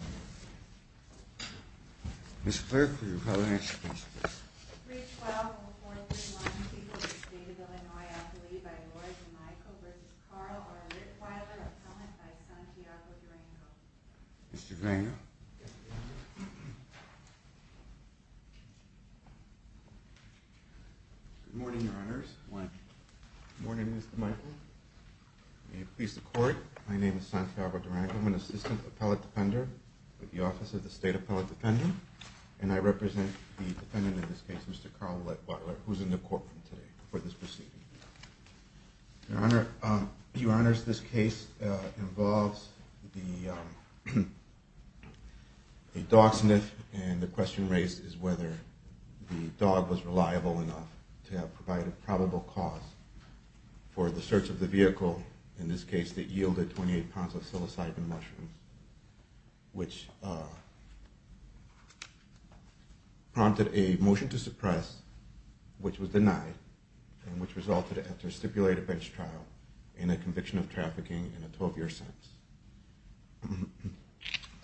Good morning, Your Honors. Good morning, Mr. Michael. May it please the Court, my name with the Office of the State Appellate Defendant, and I represent the defendant in this case, Mr. Carl Litwhiler, who's in the courtroom today for this proceeding. Your Honor, Your Honors, this case involves the dog sniff, and the question raised is whether the dog was reliable enough to have provided probable cause for the search of the vehicle, in this case, that yielded 28 pounds of psilocybin mushrooms, which prompted a motion to suppress, which was denied, and which resulted after a stipulated bench trial and a conviction of trafficking and a 12-year sentence.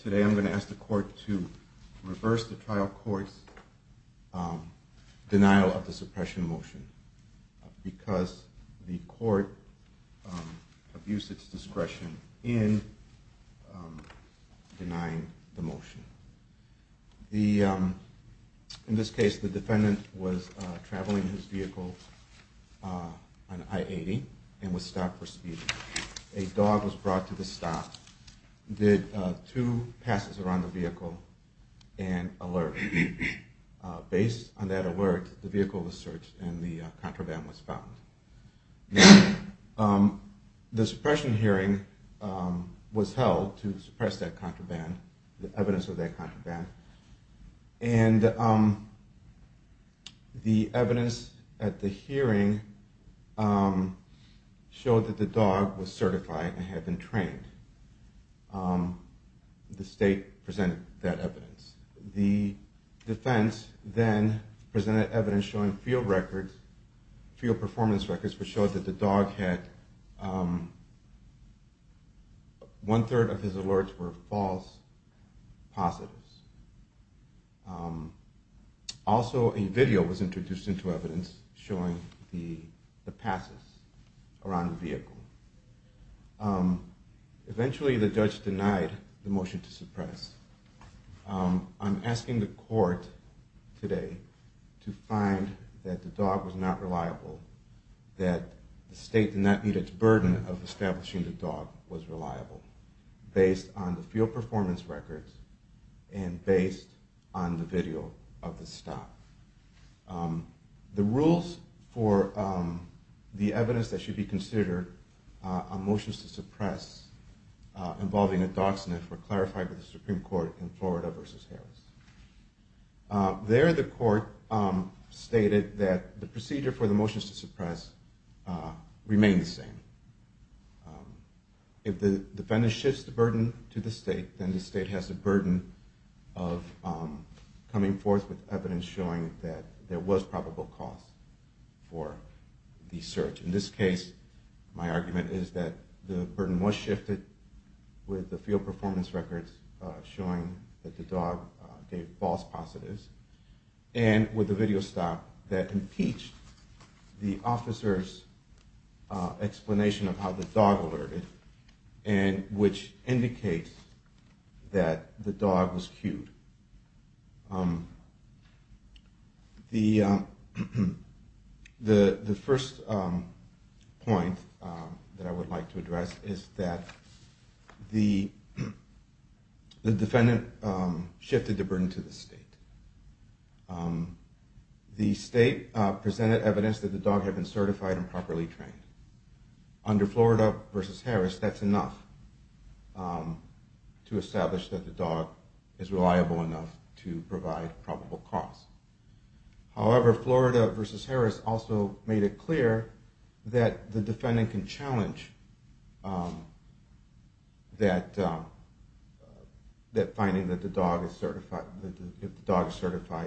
Today I'm going to ask the Court to reverse the trial court's denial of the suppression motion, because the court abused its discretion in denying the motion. In this case, the defendant was traveling his vehicle and alerted. Based on that alert, the vehicle was searched and the contraband was found. The suppression hearing was held to suppress that contraband, the evidence of that contraband, and the evidence at the hearing showed that the dog was certified and had been trained. The state presented that evidence. The defense then presented evidence showing field records, field performance records, which showed that the dog had, 1 third of his alerts were false positives. Also, a video was introduced into evidence showing the passes around the vehicle. Eventually, the judge denied the motion to suppress. I'm asking the court today to find that the dog was not reliable, that the state did not need its burden of establishing the dog was reliable, based on the field performance records and based on the video of the stop. The rules for the evidence that should be considered on motions to suppress involving a dog sniff were clarified by the Supreme Court in Florida v. Harris. There, the court stated that the procedure for the motions to suppress remain the same. If the defendant shifts the burden to the state, then the state has a burden of coming forth with evidence showing that there was probable cause for the search. In this case, my argument is that the burden was shifted with the field performance records showing that the dog gave false positives and with the video stop that point that I would like to address is that the defendant shifted the burden to the state. The state presented evidence that the dog had been certified and properly trained. Under Florida v. Harris, that's enough to establish that the dog is reliable enough to provide probable cause. However, Florida v. Harris also made it clear that the defendant can challenge that finding that the dog is certified,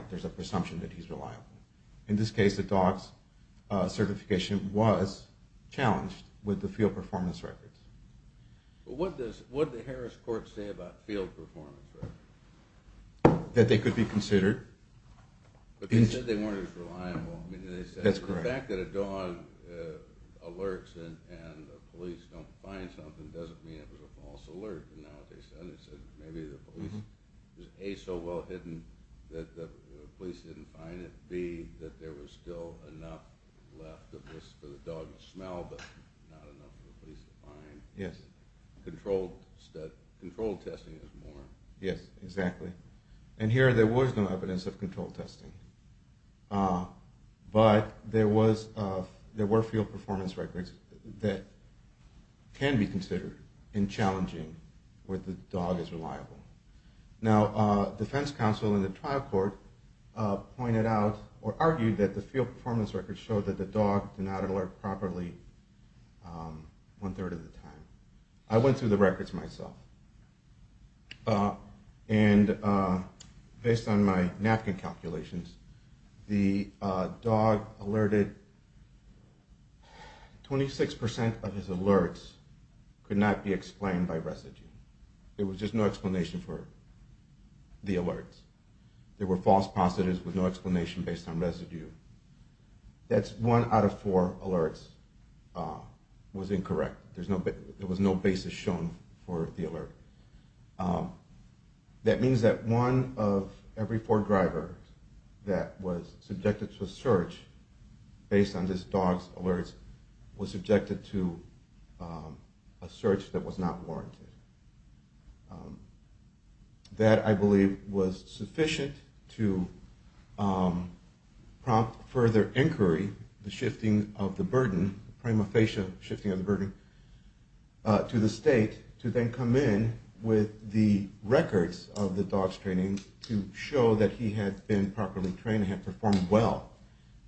there's a presumption that he's reliable. In this case, the dog's certification was challenged with the field performance records. What did the Harris court say about field performance records? That they could be considered. But they said they weren't as reliable. That's correct. The fact that a dog alerts and the police don't find something doesn't mean it was a false alert. Yes, exactly. And here there was no evidence of controlled testing. But there were field performance records that can be considered in challenging cases where the dog is reliable. Now defense counsel in the trial court argued that the field performance records showed that the dog did not alert properly one third of the time. I went through the records myself. And based on my napkin calculations, the dog alerted 26% of his alerts could not be explained by residue. There was just no explanation for the alerts. There were false positives with no explanation based on residue. That's one out of four alerts was incorrect. There was no basis shown for the alert. That means that one of every four drivers that was subjected to a search based on this dog's alerts was subjected to a search that was not warranted. That I believe was sufficient to prompt further inquiry, the shifting of the burden, prima facie shifting of the burden to the state to then come in with the records of the dog's training to show that he had been properly trained and had performed well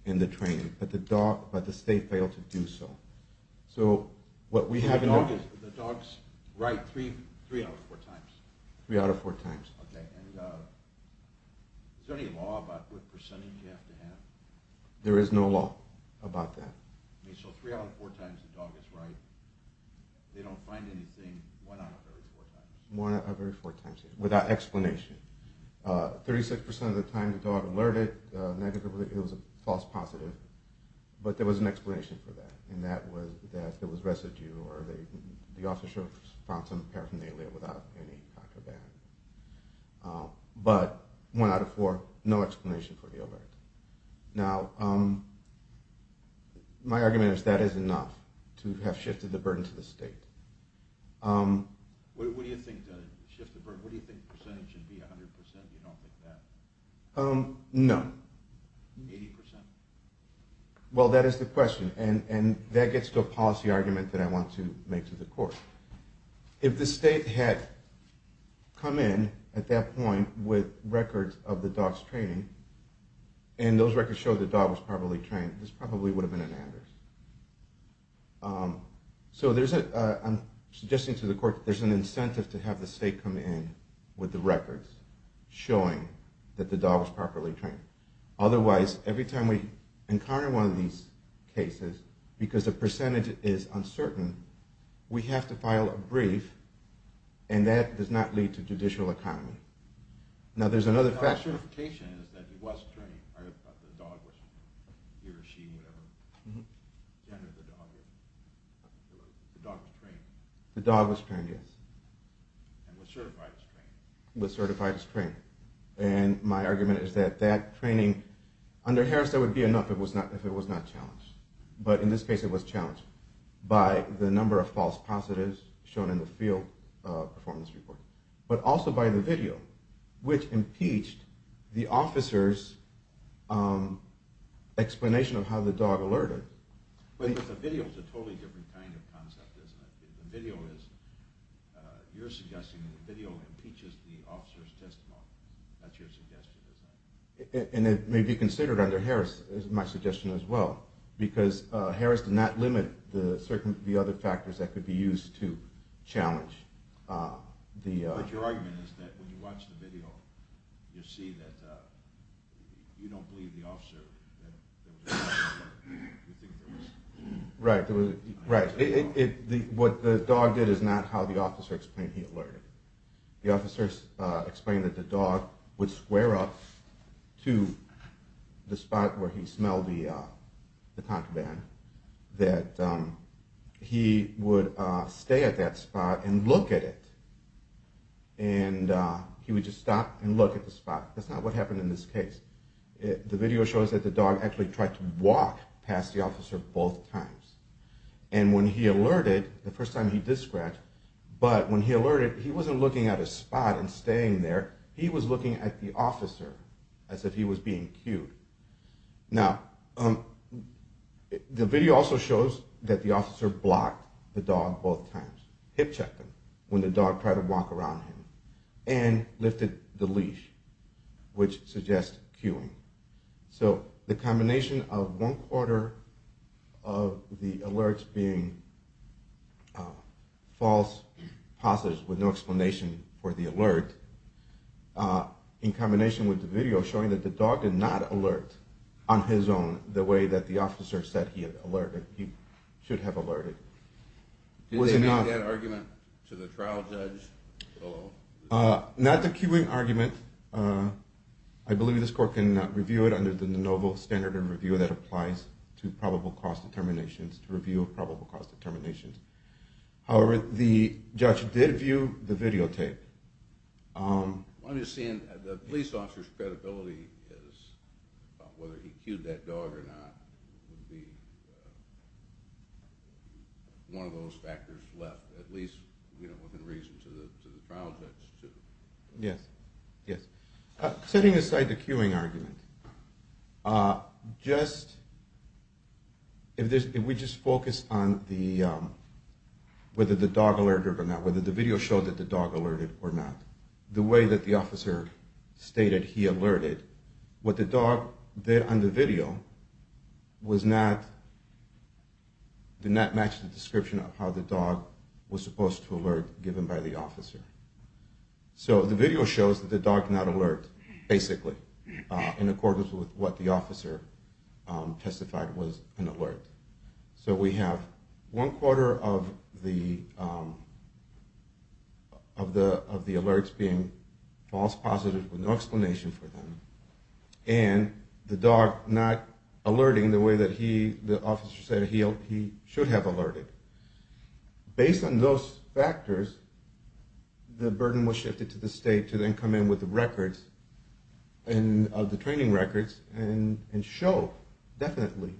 in the training, but the state failed to do so. So what we have now is that the dog is right three out of four times. Is there any law about what percentage you have to have? There is no law about that. So three out of four times the dog is right. They don't find anything one out of every four times. One out of every four times, without explanation. 36% of the time the dog alerted, it was a false positive, but there was an explanation for that. And that was that there was residue or the officer found some paraphernalia without any contraband. But one out of four, no explanation for the alert. Now my argument is that is enough to have shifted the burden to the state. What do you think percentage should be, 100%? You don't think that? No. 80%? Well, that is the question, and that gets to a policy argument that I want to make to the court. If the state had come in at that point with records of the dog's training, and those records show the dog was properly trained, this probably would have been an address. So I'm suggesting to the court that there's an incentive to have the state come in with the records showing that the dog was properly trained. Otherwise, every time we encounter one of these cases, because the percentage is uncertain, we have to file a brief, and that does not lead to judicial accounting. Now there's another factor. The dog was trained, yes. And was certified as trained. And my argument is that that training, under Harris that would be enough if it was not challenged. But in this case it was challenged by the number of false positives shown in the field performance report. But also by the video, which impeached the officer's explanation of how the dog alerted. But the video is a totally different kind of concept, isn't it? The video is, you're suggesting that the video impeaches the officer's testimony. That's your suggestion, isn't it? And it may be considered under Harris as my suggestion as well. Because Harris did not limit the other factors that could be used to challenge. But your argument is that when you watch the video, you see that you don't believe the officer. Right. What the dog did is not how the officer explained he alerted. The officer explained that the dog would square off to the spot where he smelled the concubine. That he would stay at that spot and look at it. And he would just stop and look at the spot. That's not what happened in this case. The video shows that the dog actually tried to walk past the officer both times. And when he alerted, the first time he did scratch. But when he alerted, he wasn't looking at his spot and staying there. He was looking at the officer as if he was being cued. Now, the video also shows that the officer blocked the dog both times. Hip checked him when the dog tried to walk around him. And lifted the leash, which suggests cuing. So the combination of one quarter of the alerts being false positives with no explanation for the alert, in combination with the video showing that the dog did not alert on his own the way that the officer said he should have alerted. Did they make that argument to the trial judge? Not the cuing argument. I believe this court can review it under the de novo standard of review that applies to probable cause determinations, to review probable cause determinations. However, the judge did view the videotape. I'm just seeing the police officer's credibility as whether he cued that dog or not would be one of those factors left, at least within reason to the trial judge. Setting aside the cuing argument, if we just focus on whether the dog alerted or not, whether the video showed that the dog alerted or not, the way that the officer stated he alerted, what the dog did on the video did not match the description of how the dog was supposed to alert, given by the officer. So the video shows that the dog did not alert, basically, in accordance with what the officer testified was an alert. So we have one quarter of the alerts being false positives with no explanation for them, and the dog not alerting the way that the officer said he should have alerted. Based on those factors, the burden was shifted to the state to then come in with the records, the training records, and show definitely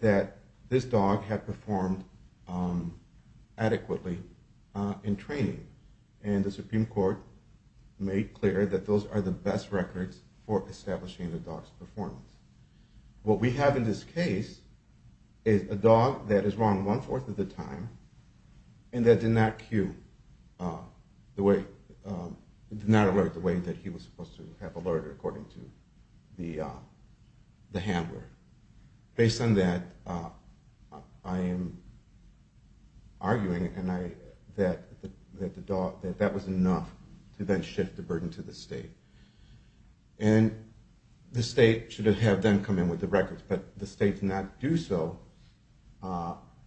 that this dog had performed adequately in training, and the Supreme Court made clear that those are the best records for establishing the dog's performance. What we have in this case is a dog that is wrong one-fourth of the time and that did not alert the way that he was supposed to have alerted according to the handler. Based on that, I am arguing that that was enough to then shift the burden to the state. And the state should have then come in with the records, but the state did not do so,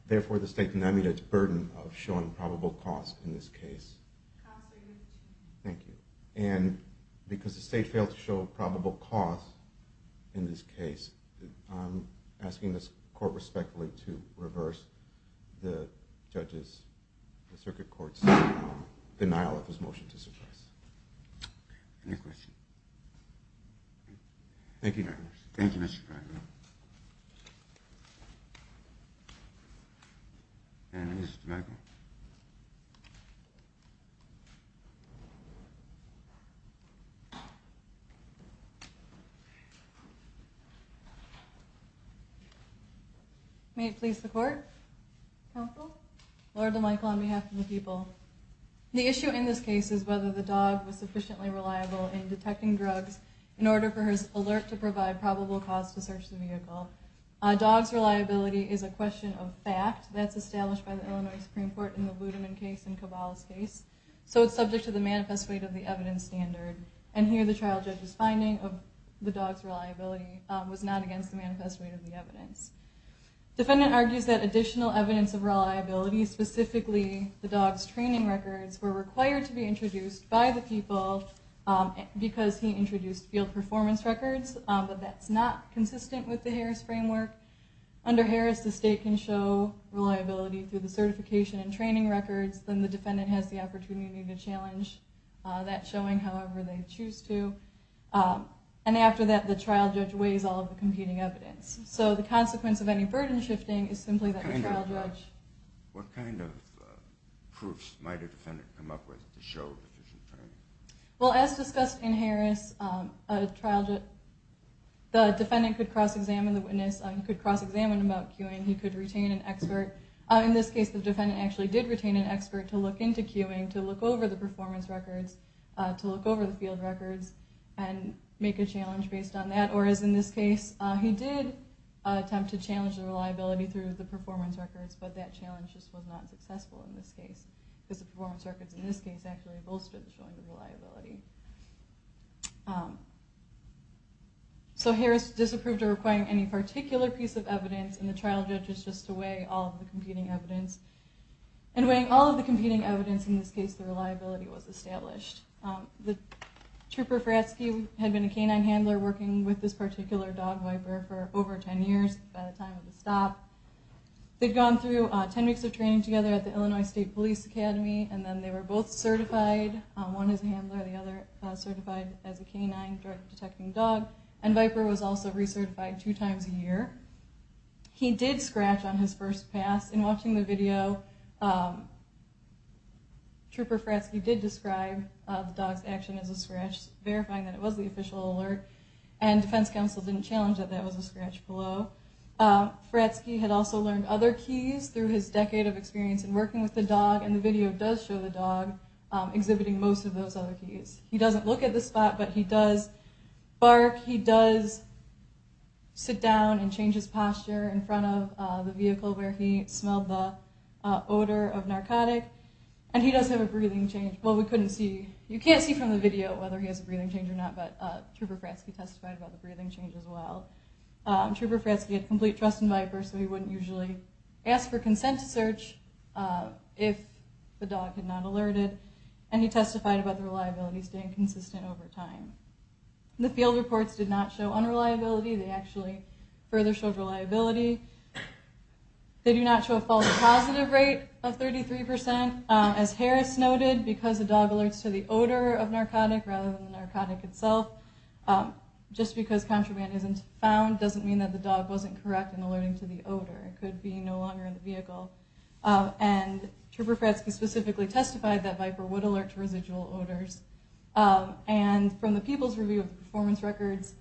therefore the state did not meet its burden of showing probable cause in this case. Thank you. And because the state failed to show probable cause in this case, I am asking this court respectfully to reverse the circuit court's denial of this motion to suppress. Any questions? Thank you. Thank you, Mr. Pratt. May it please the court? Counsel? Lord and Michael, on behalf of the people, the issue in this case is whether the dog was sufficiently reliable in detecting drugs in order for his alert to provide probable cause to search the vehicle. A dog's reliability is a question of fact that's established by the Illinois Supreme Court in the Ludeman case and Cabal's case, so it's subject to the manifest weight of the evidence standard. And here the trial judge's finding of the dog's reliability was not against the manifest weight of the evidence. The defendant argues that additional evidence of reliability, specifically the dog's training records, were required to be introduced by the people because he introduced field performance records. But that's not consistent with the Harris framework. Under Harris, the state can show reliability through the certification and training records. Then the defendant has the opportunity to challenge that showing however they choose to. And after that, the trial judge weighs all of the competing evidence. So the consequence of any burden shifting is simply that the trial judge... What kind of proofs might a defendant come up with to show that he's in training? Well, as discussed in Harris, the defendant could cross-examine the witness. He could cross-examine about cueing. He could retain an expert. In this case, the defendant actually did retain an expert to look into cueing, to look over the performance records, to look over the field records, and make a challenge based on that. Or as in this case, he did attempt to challenge the reliability through the performance records, but that challenge just was not successful in this case. Because the performance records in this case actually bolstered the showing of reliability. So Harris disapproved of requiring any particular piece of evidence, and the trial judge is just to weigh all of the competing evidence. And weighing all of the competing evidence, in this case, the reliability was established. Trooper Fratsky had been a canine handler working with this particular dog wiper for over 10 years by the time of the stop. They'd gone through 10 weeks of training together at the Illinois State Police Academy, and then they were both certified. One is a handler, the other certified as a canine drug-detecting dog. And Viper was also recertified two times a year. He did scratch on his first pass. In watching the video, Trooper Fratsky did describe the dog's action as a scratch, verifying that it was the official alert. And defense counsel didn't challenge that that was a scratch below. Fratsky had also learned other keys through his decade of experience in working with the dog. And the video does show the dog exhibiting most of those other keys. He doesn't look at the spot, but he does bark. He does sit down and change his posture in front of the vehicle where he smelled the odor of narcotic. And he does have a breathing change. Well, you can't see from the video whether he has a breathing change or not, but Trooper Fratsky testified about the breathing change as well. Trooper Fratsky had complete trust in Viper, so he wouldn't usually ask for consent to search if the dog had not alerted. And he testified about the reliability staying consistent over time. The field reports did not show unreliability. They actually further showed reliability. They do not show a false positive rate of 33%, as Harris noted, because the dog alerts to the odor of narcotic rather than the narcotic itself. Just because contraband isn't found doesn't mean that the dog wasn't correct in alerting to the odor. It could be no longer in the vehicle. And Trooper Fratsky specifically testified that Viper would alert to residual odors. And from the People's Review of Performance Records,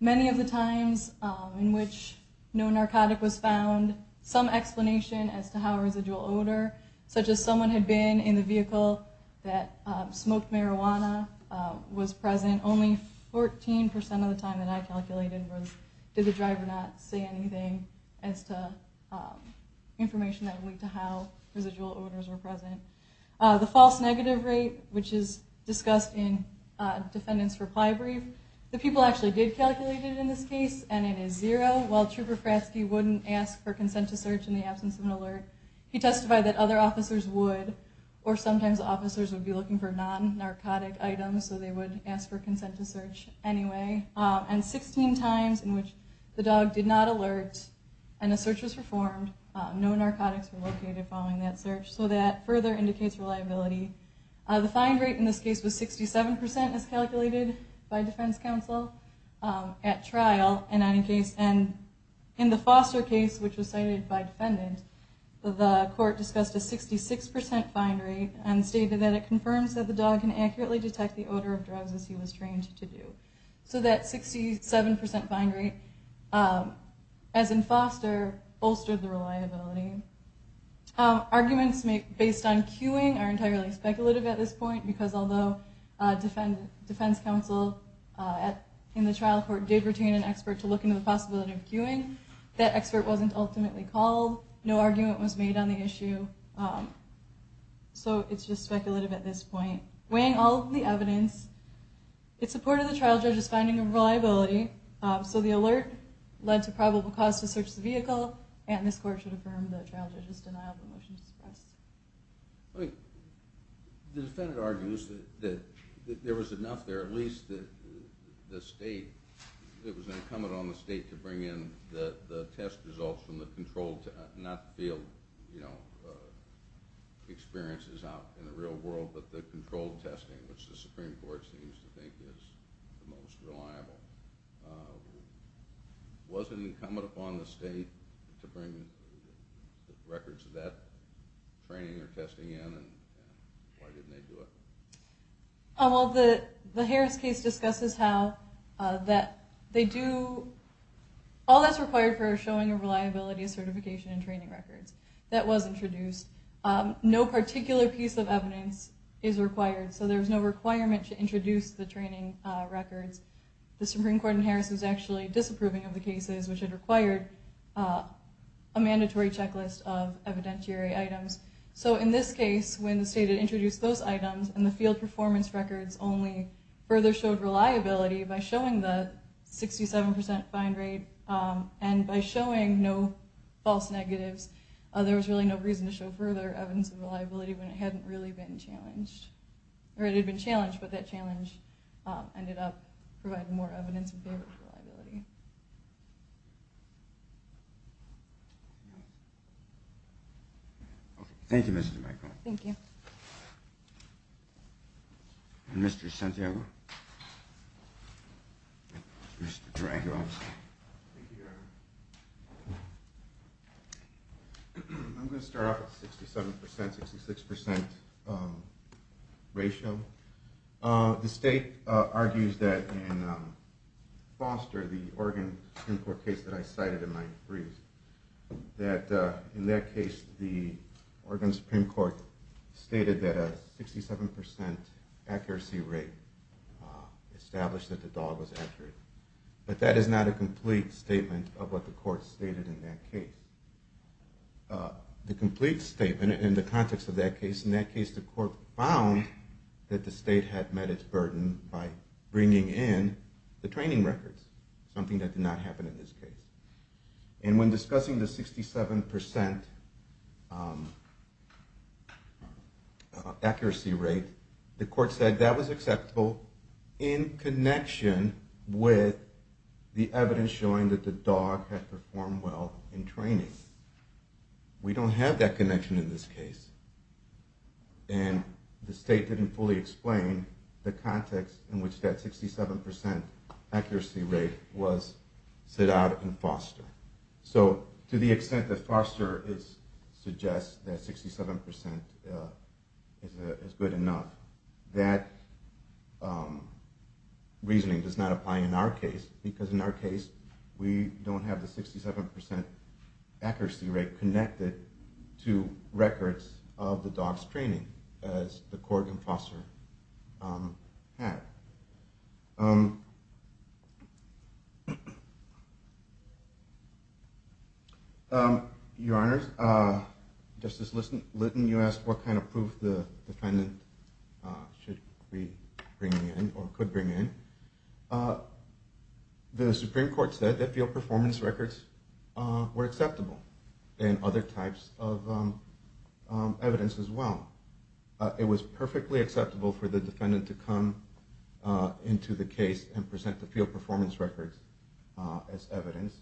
many of the times in which no narcotic was found, some explanation as to how residual odor, such as someone had been in the vehicle that smoked marijuana, was present. Only 14% of the time that I calculated did the driver not say anything as to information that would lead to how residual odors were present. The false negative rate, which is discussed in defendant's reply brief, the people actually did calculate it in this case, and it is zero. While Trooper Fratsky wouldn't ask for consent to search in the absence of an alert, he testified that other officers would, or sometimes officers would be looking for non-narcotic items, so they would ask for consent to search anyway. And 16 times in which the dog did not alert and a search was performed, no narcotics were located following that search. So that further indicates reliability. The find rate in this case was 67% as calculated by defense counsel at trial. And in the Foster case, which was cited by defendant, the court discussed a 66% find rate and stated that it confirms that the dog can accurately detect the odor of drugs as he was trained to do. So that 67% find rate, as in Foster, bolstered the reliability. Arguments based on cueing are entirely speculative at this point, because although defense counsel in the trial court did retain an expert to look into the possibility of cueing, that expert wasn't ultimately called, no argument was made on the issue, so it's just speculative at this point. Weighing all of the evidence, it supported the trial judge's finding of reliability, so the alert led to probable cause to search the vehicle, and this court should affirm the trial judge's denial of the motion to suppress. The defendant argues that there was enough there, at least the state, it was incumbent on the state to bring in the test results from the controlled, not the field experiences out in the real world, but the controlled testing, which the Supreme Court seems to think is the most reliable. Was it incumbent upon the state to bring records of that training or testing in, and why didn't they do it? The Harris case discusses how all that's required for showing a reliability of certification and training records. That was introduced. No particular piece of evidence is required, so there's no requirement to introduce the training records. The Supreme Court in Harris was actually disapproving of the cases which had required a mandatory checklist of evidentiary items. So in this case, when the state had introduced those items, and the field performance records only further showed reliability by showing the 67% find rate, and by showing no false negatives, there was really no reason to show further evidence of reliability when it hadn't really been challenged, or it had been challenged, but that challenge ended up providing more evidence of favorable reliability. Thank you, Mrs. DeMacro. Thank you. Mr. Santiago. Mr. Dragos. Thank you, Your Honor. I'm going to start off with 67%, 66% ratio. The state argues that in Foster, the Oregon Supreme Court case that I cited in my brief, that in that case the Oregon Supreme Court stated that a 67% accuracy rate established that the dog was accurate, but that is not a complete statement of what the court stated in that case. The complete statement in the context of that case, in that case the court found that the state had met its burden by bringing in the training records, something that did not happen in this case. And when discussing the 67% accuracy rate, the court said that was acceptable in connection with the evidence showing that the dog had performed well in training. We don't have that connection in this case, and the state didn't fully explain the context in which that 67% accuracy rate was set out in Foster. So to the extent that Foster suggests that 67% is good enough, that reasoning does not apply in our case, because in our case we don't have the 67% accuracy rate connected to records of the dog's training, as the court in Foster had. Your Honors, Justice Litton, you asked what kind of proof the defendant could bring in. The Supreme Court said that field performance records were acceptable, and other types of evidence as well. It was perfectly acceptable for the defendant to come into the case and present the field performance records as evidence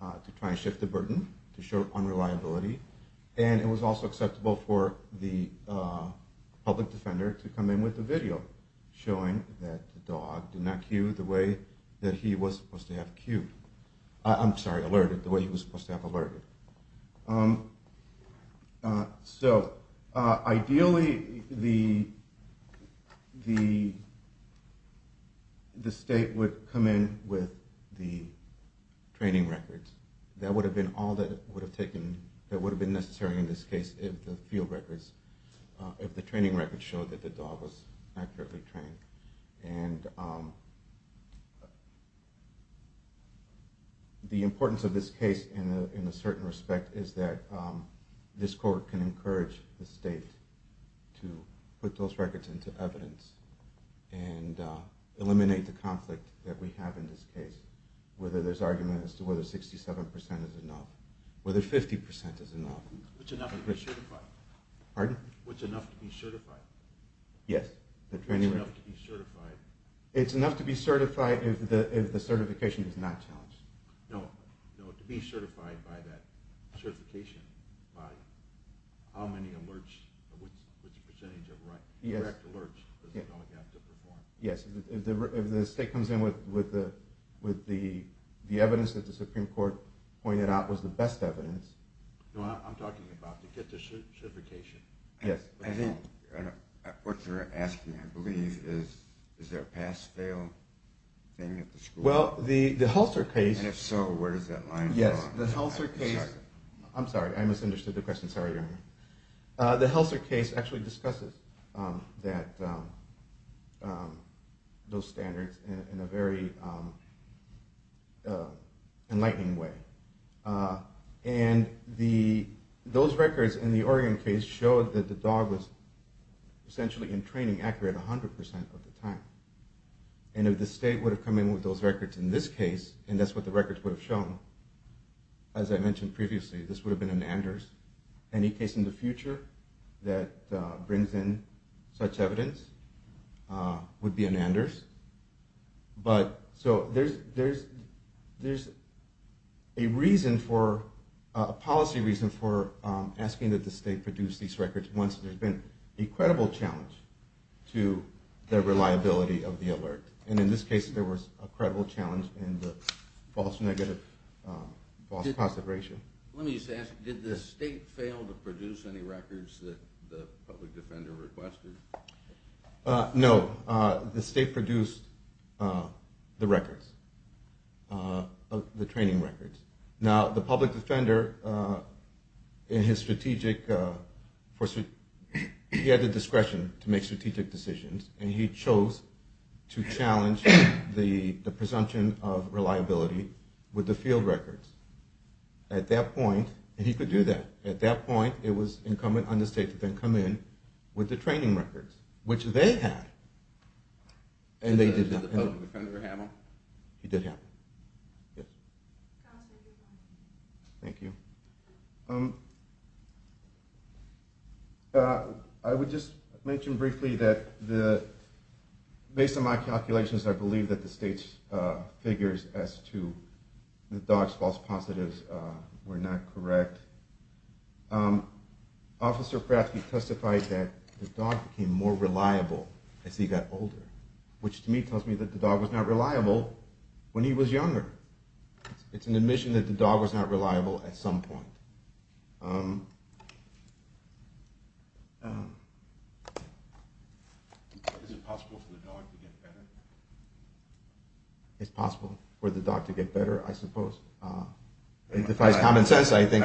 to try and shift the burden, to show unreliability, and it was also acceptable for the public defender to come in with a video showing that the dog did not cue the way that he was supposed to have alerted. So ideally the state would come in with the training records. That would have been all that would have been necessary in this case if the training records showed that the dog was accurately trained. The importance of this case in a certain respect is that this court can encourage the state to put those records into evidence and eliminate the conflict that we have in this case, whether there's argument as to whether 67% is enough, whether 50% is enough. What's enough to be certified? Yes. What's enough to be certified? It's enough to be certified if the certification is not challenged. No, to be certified by that certification, by how many alerts, which percentage of correct alerts does the dog have to perform? Yes, if the state comes in with the evidence that the Supreme Court pointed out was the best evidence. I'm talking about to get the certification. Yes. I think what they're asking, I believe, is is there a pass-fail thing at the school? Well, the Helser case... And if so, where does that line go? I'm sorry, I misunderstood the question. Sorry, Your Honor. The Helser case actually discusses those standards in a very enlightening way. And those records in the Oregon case showed that the dog was essentially in training accurate 100% of the time. And if the state would have come in with those records in this case, and that's what the records would have shown, as I mentioned previously, this would have been an Anders. Any case in the future that brings in such evidence would be an Anders. So there's a policy reason for asking that the state produce these records once there's been a credible challenge to the reliability of the alert. And in this case, there was a credible challenge in the false positive ratio. Let me just ask, did the state fail to produce any records that the public defender requested? No, the state produced the records, the training records. Now, the public defender, he had the discretion to make strategic decisions, and he chose to challenge the presumption of reliability with the field records. At that point, and he could do that. At that point, it was incumbent on the state to then come in with the training records, which they had, and they did that. Did the public defender have them? He did have them, yes. Counsel, if you can. Thank you. I would just mention briefly that based on my calculations, I believe that the state's figures as to the dog's false positives were not correct. Officer Krafke testified that the dog became more reliable as he got older, which to me tells me that the dog was not reliable when he was younger. It's an admission that the dog was not reliable at some point. Is it possible for the dog to get better? It's possible for the dog to get better, I suppose. It defies common sense, I think.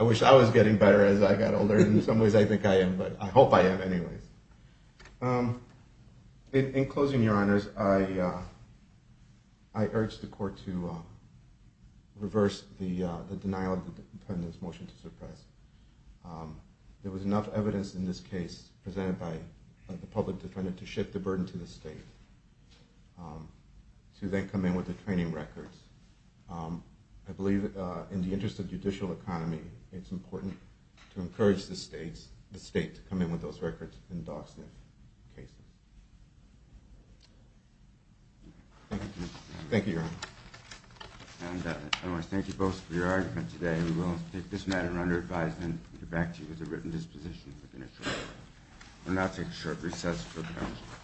I wish I was getting better as I got older. In some ways, I think I am, but I hope I am anyways. In closing, Your Honors, I urge the court to reverse the denial of the defendant's motion to suppress. There was enough evidence in this case presented by the public defender to shift the burden to the state to then come in with the training records. I believe in the interest of judicial economy, it's important to encourage the state to come in with those records in dog sniff cases. Thank you. Thank you, Your Honors. I want to thank you both for your argument today. We will take this matter under advisement and get back to you as a written disposition within a short time. We'll now take a short recess for council.